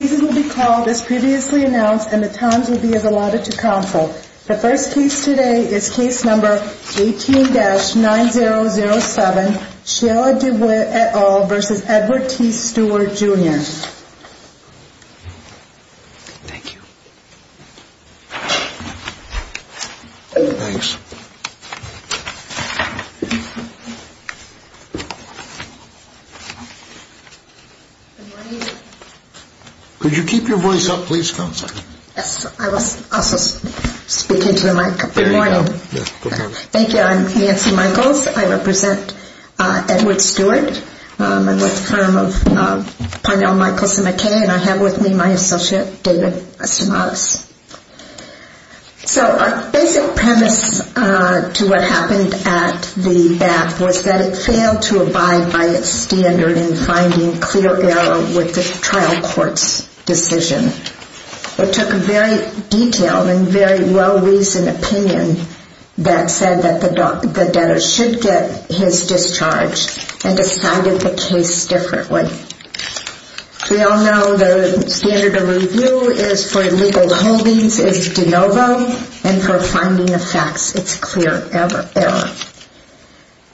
These will be called as previously announced and the times will be as allotted to counsel. The first case today is case number 18-9007, Shiela DeWitt et al. v. Edward T. Stewart, Jr. Thank you. Thanks. Good morning. Could you keep your voice up, please, counsel? Yes. I was also speaking to the mic. Good morning. Thank you. I'm Nancy Michaels. I represent Edward Stewart. I'm with the firm of Parnell, Michaels & McKay and I have with me my associate, David Estimados. So our basic premise to what happened at the bath was that it failed to abide by its standard in finding clear error with the trial court's decision. It took a very detailed and very well-reasoned opinion that said that the debtor should get his discharge and decided the case differently. We all know the standard of review for illegal holdings is de novo and for finding the facts, it's clear error.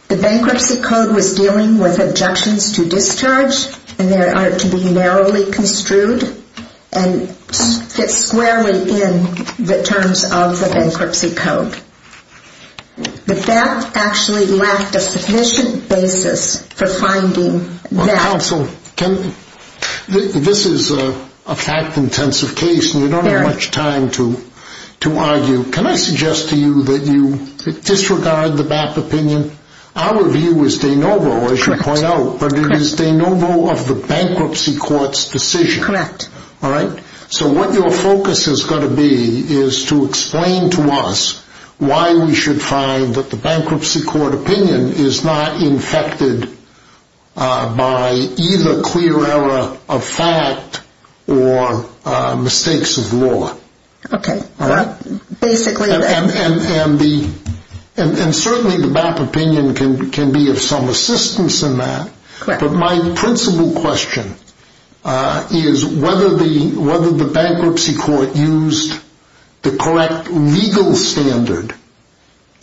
The bankruptcy code was dealing with objections to discharge and they are to be narrowly construed and fit squarely in the terms of the bankruptcy code. But that actually lacked a sufficient basis for finding that. Well, counsel, this is a fact-intensive case and we don't have much time to argue. Can I suggest to you that you disregard the BAP opinion? Our view is de novo, as you point out, but it is de novo of the bankruptcy court's decision. Correct. So what your focus is going to be is to explain to us why we should find that the bankruptcy court opinion is not infected by either clear error of fact or mistakes of law. And certainly the BAP opinion can be of some assistance in that. But my principal question is whether the bankruptcy court used the correct legal standard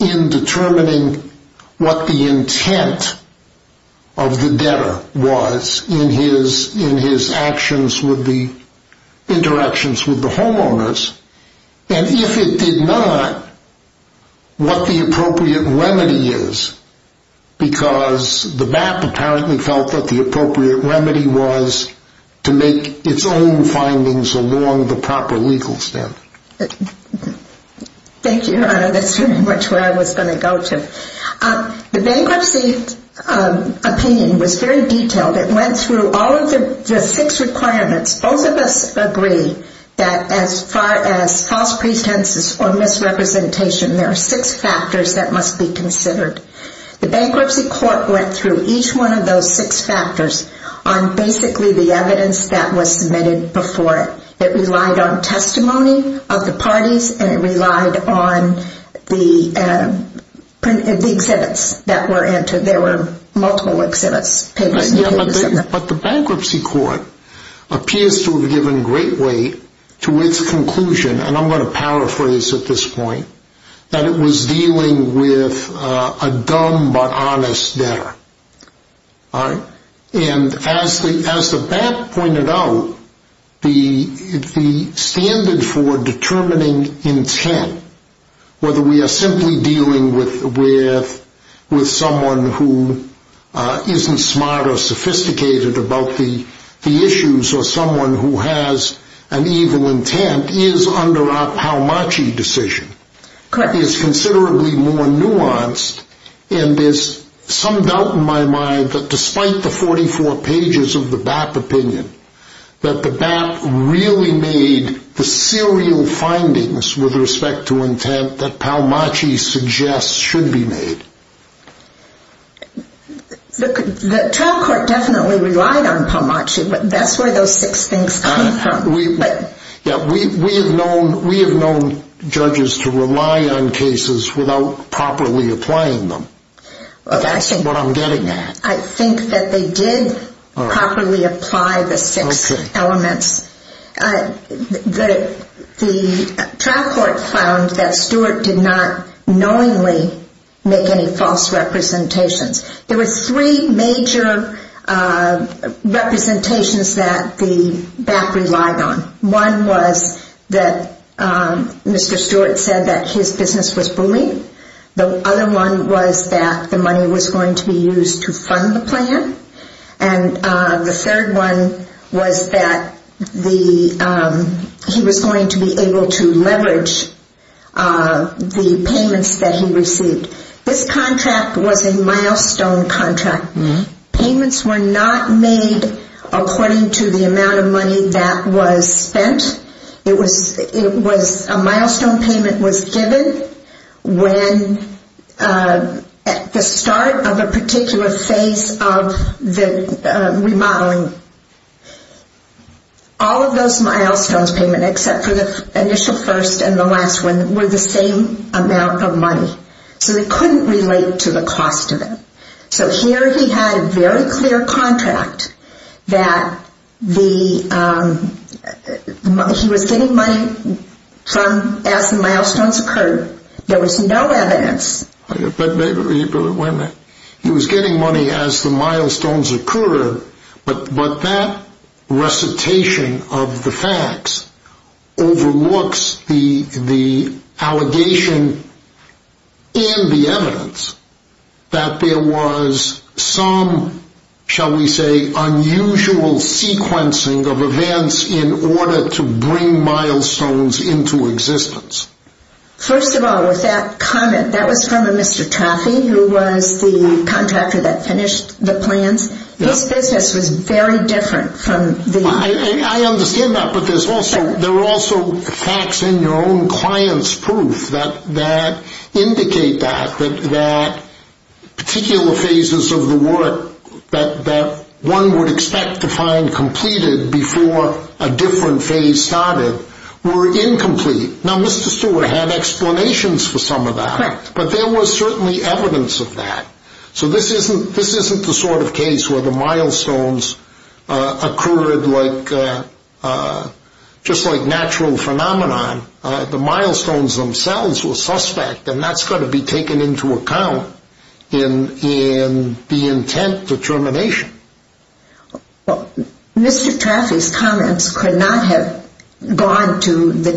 in determining what the intent of the debtor was in his actions with the interactions with the homeowners. And if it did not, what the appropriate remedy is, because the BAP apparently felt that the appropriate remedy was to make its own findings along the proper legal standard. Thank you, Your Honor. That's very much where I was going to go to. The bankruptcy opinion was very detailed. It went through all of the six requirements. Both of us agree that as far as false pretenses or misrepresentation, there are six factors that must be considered. The bankruptcy court went through each one of those six factors on basically the evidence that was submitted before it. It relied on testimony of the parties and it relied on the exhibits that were entered. There were multiple exhibits. But the bankruptcy court appears to have given great weight to its conclusion, and I'm going to paraphrase at this point, that it was dealing with a dumb but honest debtor. And as the BAP pointed out, the standard for determining intent, whether we are simply dealing with someone who isn't smart or sophisticated about the issues or someone who has an evil intent, is under our Paumachi decision. It's considerably more nuanced, and there's some doubt in my mind that despite the 44 pages of the BAP opinion, that the BAP really made the serial findings with respect to intent that Paumachi suggests should be made. The trial court definitely relied on Paumachi, but that's where those six things came from. We have known judges to rely on cases without properly applying them. That's what I'm getting at. I think that they did properly apply the six elements. The trial court found that Stewart did not knowingly make any false representations. There were three major representations that the BAP relied on. One was that Mr. Stewart said that his business was bullied. The other one was that the money was going to be used to fund the plan. And the third one was that he was going to be able to leverage the payments that he received. This contract was a milestone contract. Payments were not made according to the amount of money that was spent. A milestone payment was given when at the start of a particular phase of the remodeling. All of those milestones payments, except for the initial first and the last one, were the same amount of money. So they couldn't relate to the cost of it. So here he had a very clear contract that he was getting money as the milestones occurred. There was no evidence. He was getting money as the milestones occurred, but that recitation of the facts overlooks the allegation and the evidence that there was some, shall we say, unusual sequencing of events in order to bring milestones into existence. First of all, with that comment, that was from a Mr. Traffee, who was the contractor that finished the plans. His business was very different from the... I understand that, but there were also facts in your own client's proof that indicate that, that particular phases of the work that one would expect to find completed before a different phase started were incomplete. Now, Mr. Stewart had explanations for some of that, but there was certainly evidence of that. So this isn't the sort of case where the milestones occurred just like natural phenomenon. The milestones themselves were suspect, and that's got to be taken into account in the intent determination. Well, Mr. Traffee's comments could not have gone to the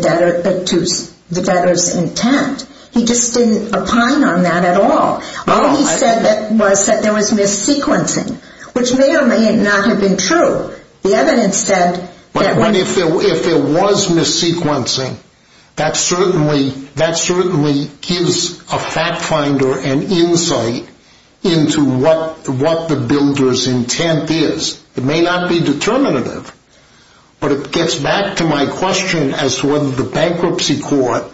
debtor's intent. He just didn't opine on that at all. All he said was that there was mis-sequencing, which may or may not have been true. The evidence said that... But if there was mis-sequencing, that certainly gives a fact finder an insight into what the builder's intent is. It may not be determinative, but it gets back to my question as to whether the bankruptcy court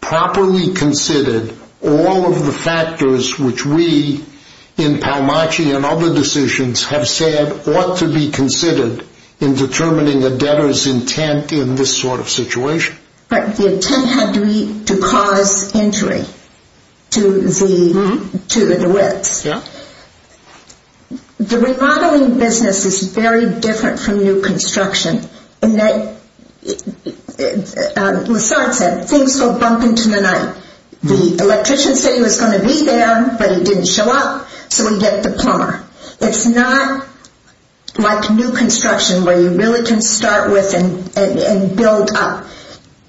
properly considered all of the factors which we, in Palmacci and other decisions, have said ought to be considered in determining a debtor's intent in this sort of situation. But the intent had to be to cause injury to the wits. Yeah. The remodeling business is very different from new construction in that, as Lasard said, things go bump into the night. The electrician said he was going to be there, but he didn't show up, so we get the plumber. It's not like new construction where you really can start with and build up.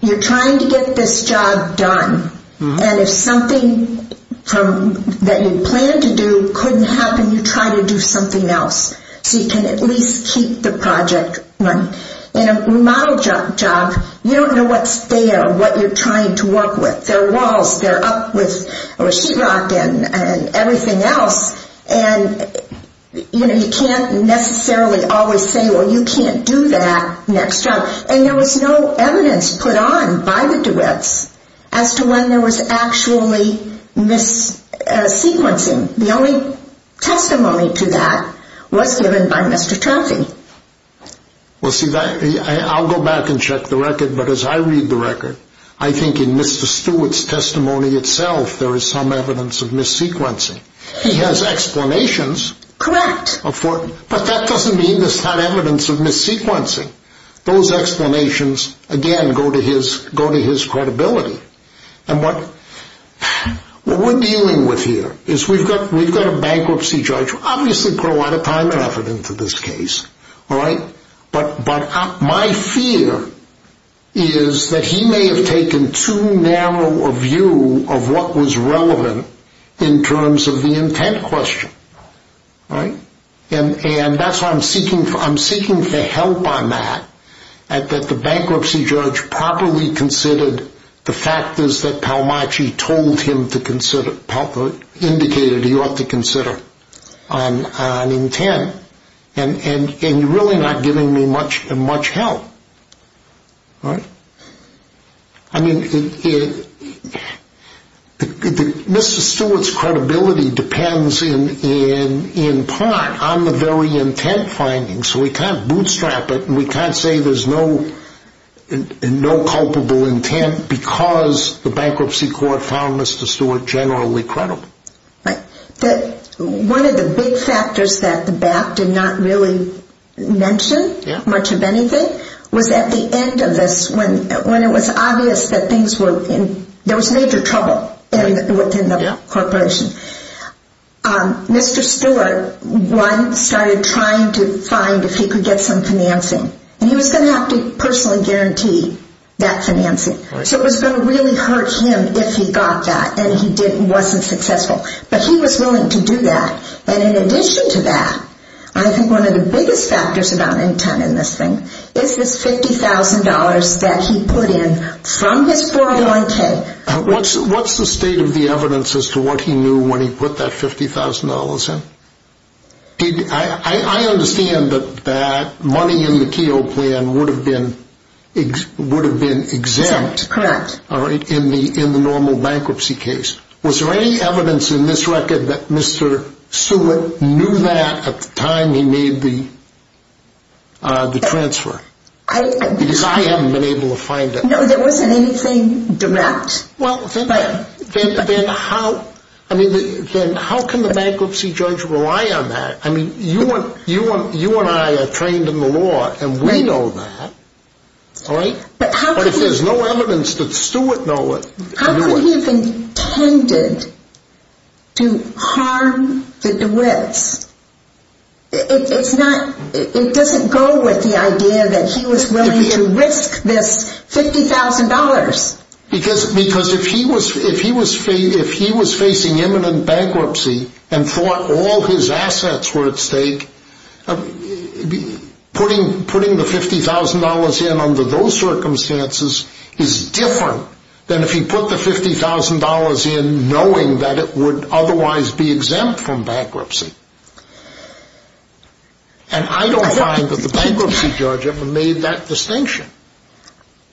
You're trying to get this job done, and if something that you planned to do couldn't happen, you try to do something else so you can at least keep the project running. In a remodeled job, you don't know what's there, what you're trying to work with. There are walls, they're up with sheetrock and everything else, and you can't necessarily always say, well, you can't do that next job. And there was no evidence put on by the duets as to when there was actually mis-sequencing. The only testimony to that was given by Mr. Trophy. Well, see, I'll go back and check the record, but as I read the record, I think in Mr. Stewart's testimony itself there is some evidence of mis-sequencing. He has explanations. Correct. But that doesn't mean there's not evidence of mis-sequencing. Those explanations, again, go to his credibility. And what we're dealing with here is we've got a bankruptcy judge who's obviously put a lot of time and effort into this case, but my fear is that he may have taken too narrow a view of what was relevant in terms of the intent question. And that's why I'm seeking the help on that, that the bankruptcy judge properly considered the factors that Palmacci told him to consider, indicated he ought to consider on intent. And you're really not giving me much help. I mean, Mr. Stewart's credibility depends in part on the very intent findings. So we can't bootstrap it and we can't say there's no culpable intent because the bankruptcy court found Mr. Stewart generally credible. Right. One of the big factors that the BAP did not really mention much of anything was at the end of this when it was obvious that things were in – there was major trouble within the corporation. Mr. Stewart, one, started trying to find if he could get some financing. And he was going to have to personally guarantee that financing. So it was going to really hurt him if he got that and he wasn't successful. But he was willing to do that. And in addition to that, I think one of the biggest factors about intent in this thing is this $50,000 that he put in from his 401K. What's the state of the evidence as to what he knew when he put that $50,000 in? I understand that money in the Keogh plan would have been exempt. Exempt, correct. All right, in the normal bankruptcy case. Was there any evidence in this record that Mr. Stewart knew that at the time he made the transfer? Because I haven't been able to find it. No, there wasn't anything direct. Well, then how can the bankruptcy judge rely on that? I mean, you and I are trained in the law and we know that, all right? But if there's no evidence that Stewart knew it – How could he have intended to harm the DeWitts? It doesn't go with the idea that he was willing to risk this $50,000. Because if he was facing imminent bankruptcy and thought all his assets were at stake, putting the $50,000 in under those circumstances is different than if he put the $50,000 in knowing that it would otherwise be exempt from bankruptcy. And I don't find that the bankruptcy judge ever made that distinction.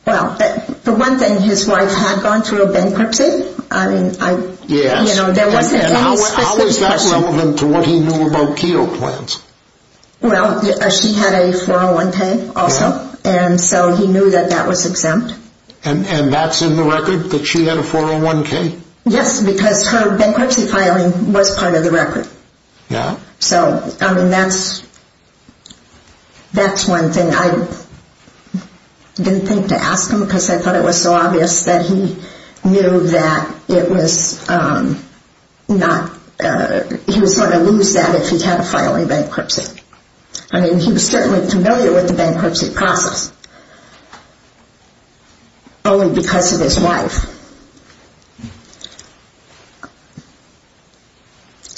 Well, for one thing, his wife had gone through a bankruptcy. I mean, there wasn't any specific person. How is that relevant to what he knew about Keogh plans? Well, she had a 401k also, and so he knew that that was exempt. And that's in the record, that she had a 401k? Yes, because her bankruptcy filing was part of the record. Yeah. So, I mean, that's one thing. I didn't think to ask him because I thought it was so obvious that he knew that it was not – he was going to lose that if he had a filing bankruptcy. I mean, he was certainly familiar with the bankruptcy process, only because of his wife.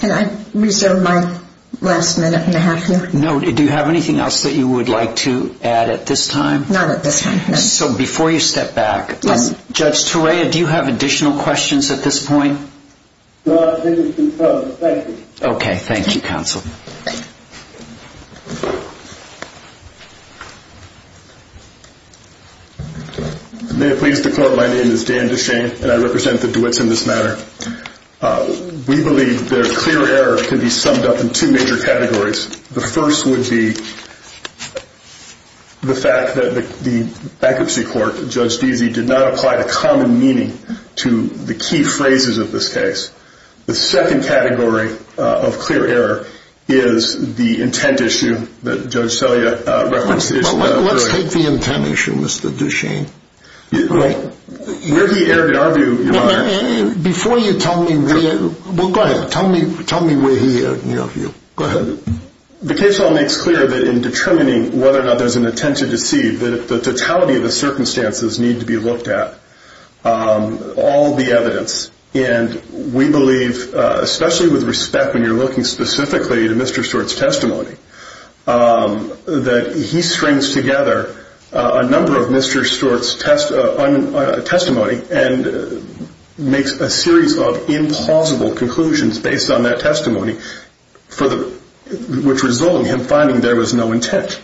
Can I reserve my last minute and a half here? No. Do you have anything else that you would like to add at this time? Not at this time, no. So, before you step back, Judge Torea, do you have additional questions at this point? No, I think we can close. Thank you. Okay. Thank you, counsel. Thank you. May it please the Court, my name is Dan DeShane, and I represent the DeWitts in this matter. We believe that a clear error can be summed up in two major categories. The first would be the fact that the bankruptcy court, Judge Deasy, did not apply the common meaning to the key phrases of this case. The second category of clear error is the intent issue that Judge Selya referenced. Let's take the intent issue, Mr. DeShane. Where he erred in our view, Your Honor. Before you tell me where – well, go ahead. Tell me where he erred in your view. Go ahead. The case law makes clear that in determining whether or not there's an intent to deceive, that the totality of the circumstances need to be looked at. All the evidence. And we believe, especially with respect when you're looking specifically at Mr. Stewart's testimony, that he strings together a number of Mr. Stewart's testimony and makes a series of implausible conclusions based on that testimony, which result in him finding there was no intent.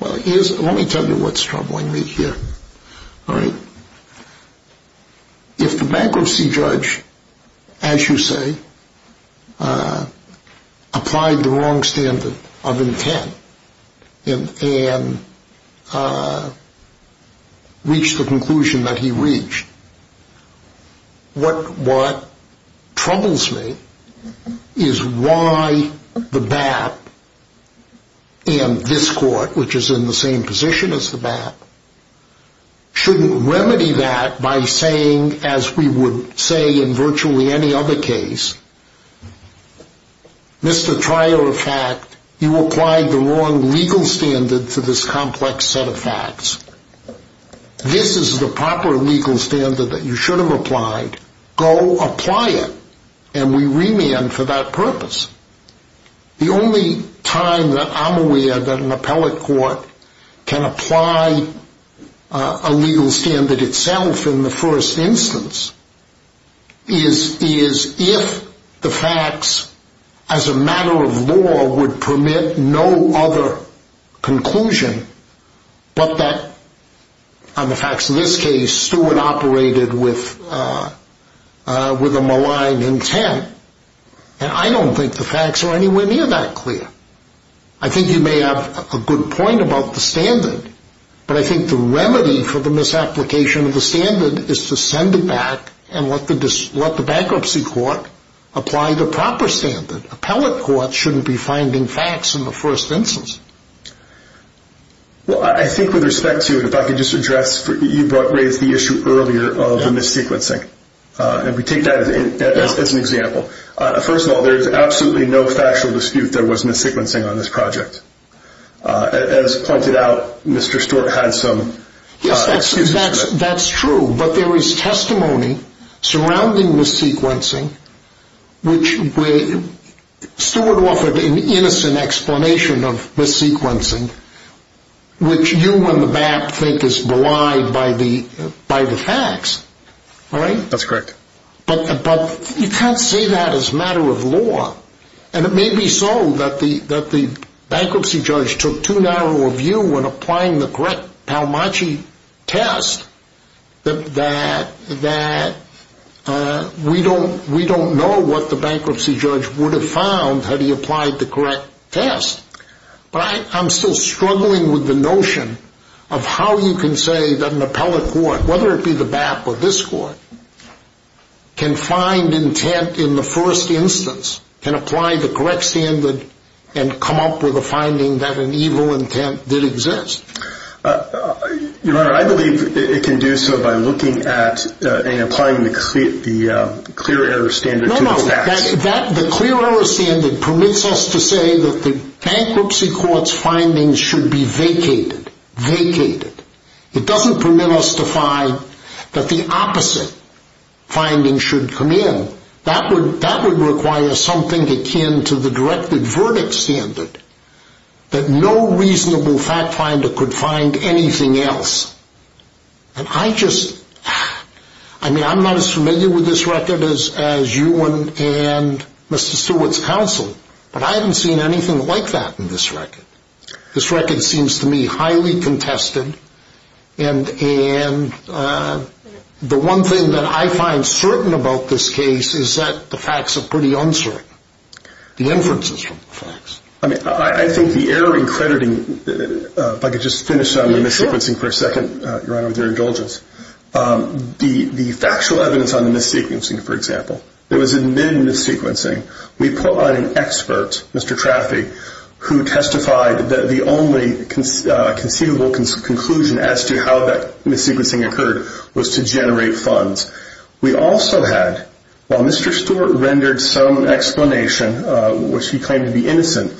Well, let me tell you what's troubling me here. All right? If the bankruptcy judge, as you say, applied the wrong standard of intent and reached the conclusion that he reached, what troubles me is why the BAP and this court, which is in the same position as the BAP, shouldn't remedy that by saying, as we would say in virtually any other case, Mr. Trial of Fact, you applied the wrong legal standard to this complex set of facts. This is the proper legal standard that you should have applied. Go apply it. And we remand for that purpose. The only time that I'm aware that an appellate court can apply a legal standard itself in the first instance is if the facts, as a matter of law, would permit no other conclusion but that, on the facts of this case, Stewart operated with a malign intent. And I don't think the facts are anywhere near that clear. I think you may have a good point about the standard, but I think the remedy for the misapplication of the standard is to send it back and let the bankruptcy court apply the proper standard. Appellate courts shouldn't be finding facts in the first instance. Well, I think with respect to it, if I could just address, you raised the issue earlier of the missequencing, and we take that as an example. First of all, there is absolutely no factual dispute there was missequencing on this project. As pointed out, Mr. Stewart had some excuses for that. That's true, but there is testimony surrounding missequencing, which Stewart offered an innocent explanation of missequencing, which you and the BAP think is belied by the facts. That's correct. But you can't say that as a matter of law. And it may be so that the bankruptcy judge took too narrow a view when applying the correct Palmacci test that we don't know what the bankruptcy judge would have found had he applied the correct test. But I'm still struggling with the notion of how you can say that an appellate court, whether it be the BAP or this court, can find intent in the first instance, can apply the correct standard and come up with a finding that an evil intent did exist. Your Honor, I believe it can do so by looking at and applying the clear error standard to the facts. No, no, the clear error standard permits us to say that the bankruptcy court's findings should be vacated, vacated. It doesn't permit us to find that the opposite findings should come in. That would require something akin to the directed verdict standard, that no reasonable fact finder could find anything else. And I just, I mean, I'm not as familiar with this record as you and Mr. Stewart's counsel, but I haven't seen anything like that in this record. This record seems to me highly contested, and the one thing that I find certain about this case is that the facts are pretty uncertain, the inferences from the facts. I mean, I think the error in crediting, if I could just finish on the missequencing for a second, Your Honor, with your indulgence. The factual evidence on the missequencing, for example, it was in mid-missequencing. We put on an expert, Mr. Traffee, who testified that the only conceivable conclusion as to how that missequencing occurred was to generate funds. We also had, while Mr. Stewart rendered some explanation, which he claimed to be innocent,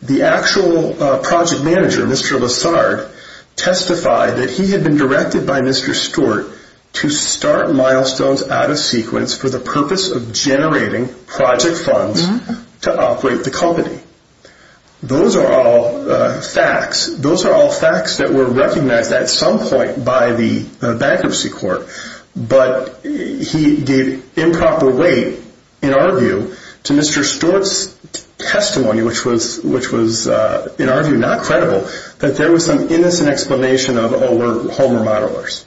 the actual project manager, Mr. Lessard, testified that he had been directed by Mr. Stewart to start milestones out of sequence for the purpose of generating project funds to operate the company. Those are all facts. Those are all facts that were recognized at some point by the bankruptcy court, but he gave improper weight, in our view, to Mr. Stewart's testimony, which was, in our view, not credible, that there was some innocent explanation of, oh, we're home remodelers.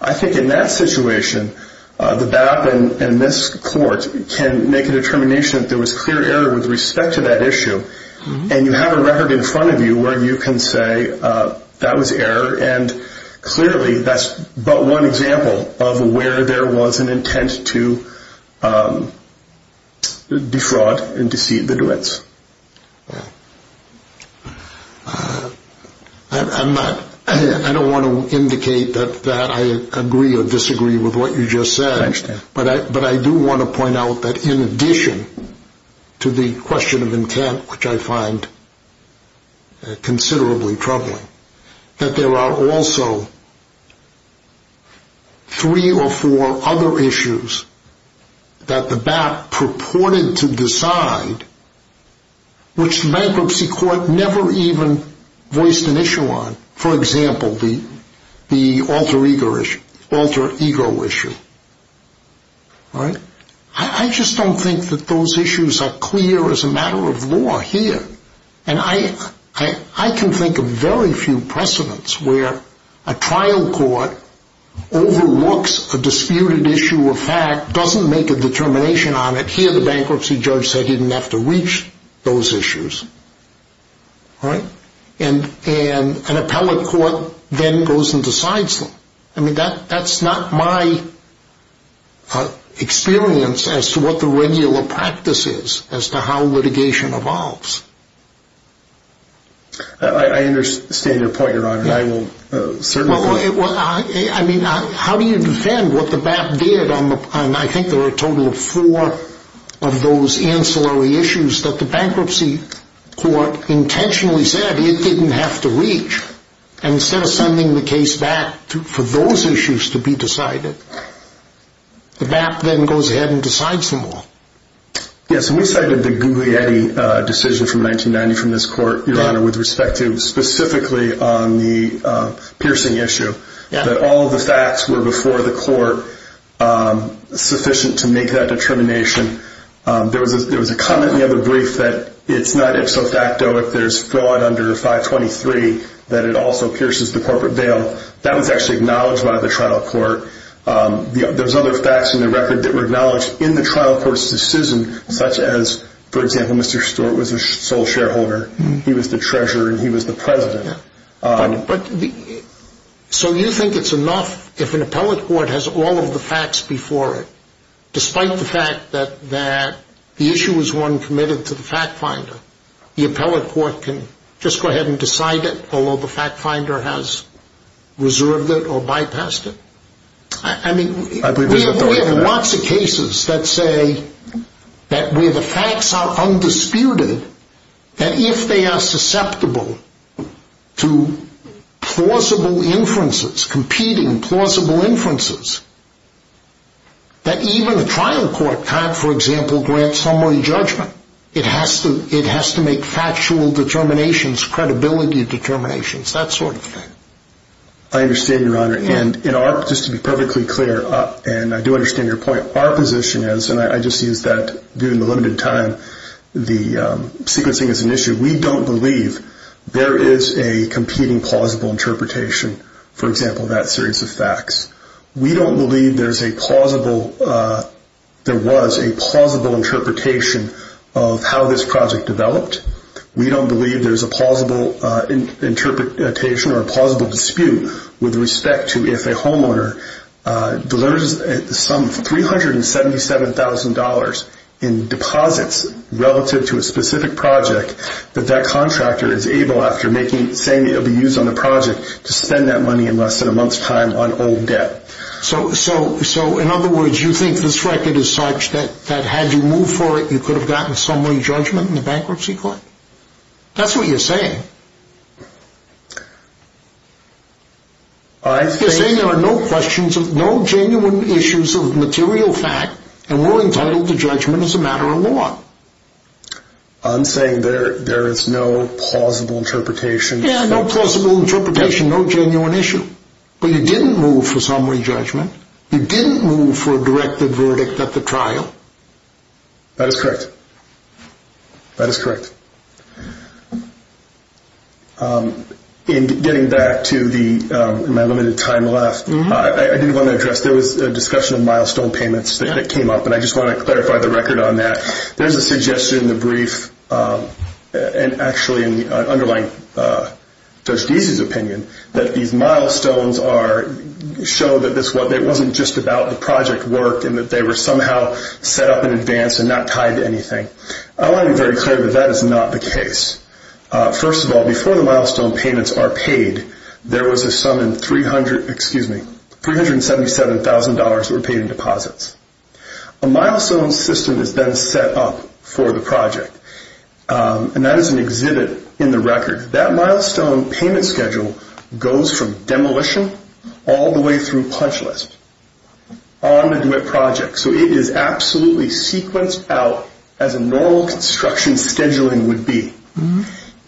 I think in that situation, the BAP and this court can make a determination that there was clear error with respect to that issue, and you have a record in front of you where you can say that was error, and clearly that's but one example of where there was an intent to defraud and deceive the duets. I don't want to indicate that I agree or disagree with what you just said, but I do want to point out that in addition to the question of intent, which I find considerably troubling, that there are also three or four other issues that the BAP purported to decide, which the bankruptcy court never even voiced an issue on. For example, the alter ego issue. I just don't think that those issues are clear as a matter of law here, and I can think of very few precedents where a trial court overlooks a disputed issue of fact, doesn't make a determination on it, hear the bankruptcy judge say he didn't have to reach those issues, and an appellate court then goes and decides them. That's not my experience as to what the regular practice is as to how litigation evolves. I understand your point, Your Honor. How do you defend what the BAP did on I think there are a total of four of those ancillary issues that the bankruptcy court intentionally said it didn't have to reach, and instead of sending the case back for those issues to be decided, the BAP then goes ahead and decides them all? Yes, and we cited the Guglielmi decision from 1990 from this court, Your Honor, with respect to specifically on the piercing issue, that all of the facts were before the court sufficient to make that determination. There was a comment in the other brief that it's not ipso facto if there's fraud under 523 that it also pierces the corporate bail. That was actually acknowledged by the trial court. There's other facts in the record that were acknowledged in the trial court's decision, such as, for example, Mr. Stewart was the sole shareholder, he was the treasurer, and he was the president. So you think it's enough if an appellate court has all of the facts before it, despite the fact that the issue was one committed to the fact finder, the appellate court can just go ahead and decide it, although the fact finder has reserved it or bypassed it? I mean, we have lots of cases that say that where the facts are undisputed, that if they are susceptible to plausible inferences, competing plausible inferences, that even the trial court can't, for example, grant summary judgment. It has to make factual determinations, credibility determinations, that sort of thing. I understand, Your Honor, and just to be perfectly clear, and I do understand your point, our position is, and I just used that during the limited time, the sequencing is an issue. We don't believe there is a competing plausible interpretation, for example, of that series of facts. We don't believe there was a plausible interpretation of how this project developed. We don't believe there's a plausible interpretation or a plausible dispute with respect to if a homeowner delivers some $377,000 in deposits relative to a specific project that that contractor is able, after saying it will be used on the project, to spend that money in less than a month's time on old debt. So, in other words, you think this record is such that had you moved for it, you could have gotten summary judgment in the bankruptcy court? That's what you're saying. You're saying there are no questions, no genuine issues of material fact, and we're entitled to judgment as a matter of law. I'm saying there is no plausible interpretation. No plausible interpretation, no genuine issue. But you didn't move for summary judgment. You didn't move for a directed verdict at the trial. That is correct. That is correct. In getting back to my limited time left, I did want to address, there was a discussion of milestone payments that came up, and I just want to clarify the record on that. There's a suggestion in the brief, and actually in the underlying Judge Deasy's opinion, that these milestones show that it wasn't just about the project work, and that they were somehow set up in advance and not tied to anything. I want to be very clear that that is not the case. First of all, before the milestone payments are paid, there was a sum in $377,000 that were paid in deposits. A milestone system is then set up for the project, and that is an exhibit in the record. That milestone payment schedule goes from demolition all the way through punch list on the duet project. It is absolutely sequenced out as a normal construction scheduling would be.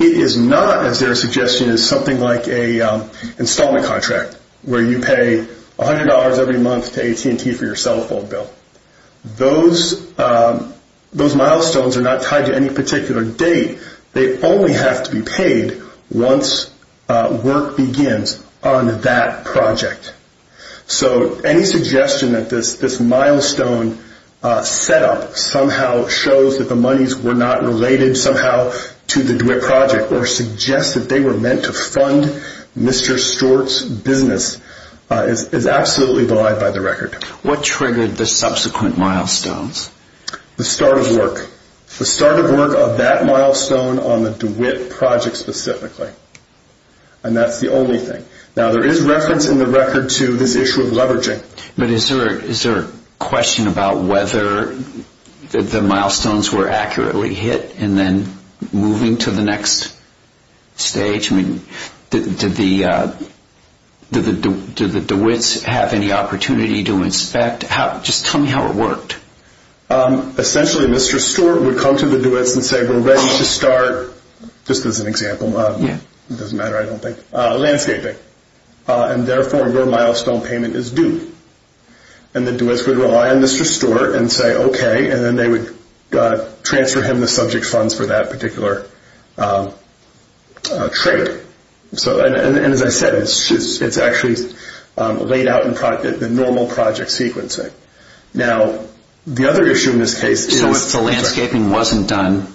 It is not, as their suggestion is, something like an installment contract, where you pay $100 every month to AT&T for your cell phone bill. Those milestones are not tied to any particular date. They only have to be paid once work begins on that project. Any suggestion that this milestone set up somehow shows that the monies were not related somehow to the duet project, or suggests that they were meant to fund Mr. Stewart's business, is absolutely belied by the record. What triggered the subsequent milestones? The start of work. The start of work of that milestone on the duet project specifically, and that's the only thing. There is reference in the record to this issue of leveraging. Is there a question about whether the milestones were accurately hit, and then moving to the next stage? Did the duets have any opportunity to inspect? Just tell me how it worked. Essentially, Mr. Stewart would come to the duets and say, Just as an example, it doesn't matter, I don't think. Landscaping. Therefore, your milestone payment is due. The duets would rely on Mr. Stewart and say okay, and then they would transfer him the subject funds for that particular trade. As I said, it's actually laid out in the normal project sequencing. The other issue in this case is... So if the landscaping wasn't done...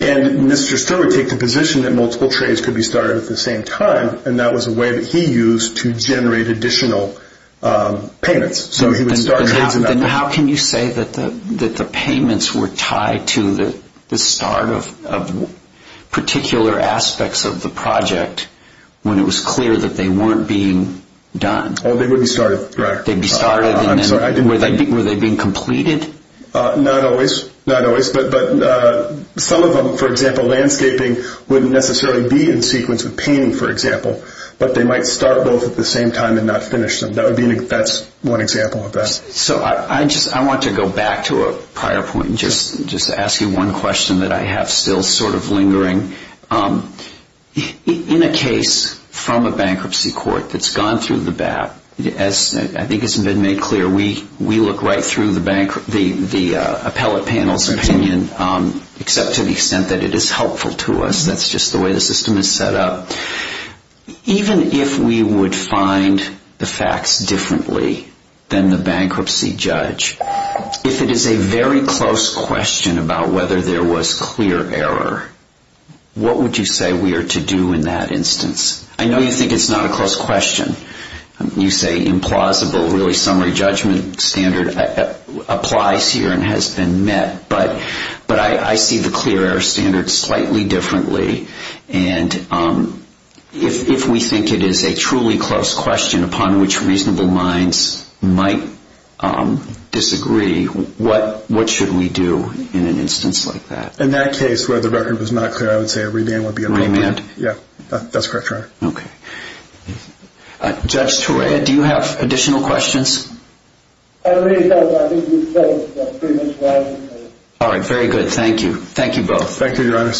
Mr. Stewart would take the position that multiple trades could be started at the same time, and that was a way that he used to generate additional payments. How can you say that the payments were tied to the start of particular aspects of the project when it was clear that they weren't being done? They would be started. Were they being completed? Not always, but some of them, for example, landscaping wouldn't necessarily be in sequence with painting, for example, but they might start both at the same time and not finish them. That's one example of that. I want to go back to a prior point and just ask you one question that I have still sort of lingering. In a case from a bankruptcy court that's gone through the BAP, as I think has been made clear, we look right through the appellate panel's opinion, except to the extent that it is helpful to us. That's just the way the system is set up. Even if we would find the facts differently than the bankruptcy judge, if it is a very close question about whether there was clear error, what would you say we are to do in that instance? I know you think it's not a close question. You say implausible. Really, summary judgment standard applies here and has been met, but I see the clear error standard slightly differently. If we think it is a truly close question upon which reasonable minds might disagree, what should we do in an instance like that? In that case where the record was not clear, I would say a remand would be helpful. Remand? Yes. That's correct, Your Honor. Okay. Judge Torea, do you have additional questions? All right. Very good. Thank you. Thank you both. Thank you, Your Honor.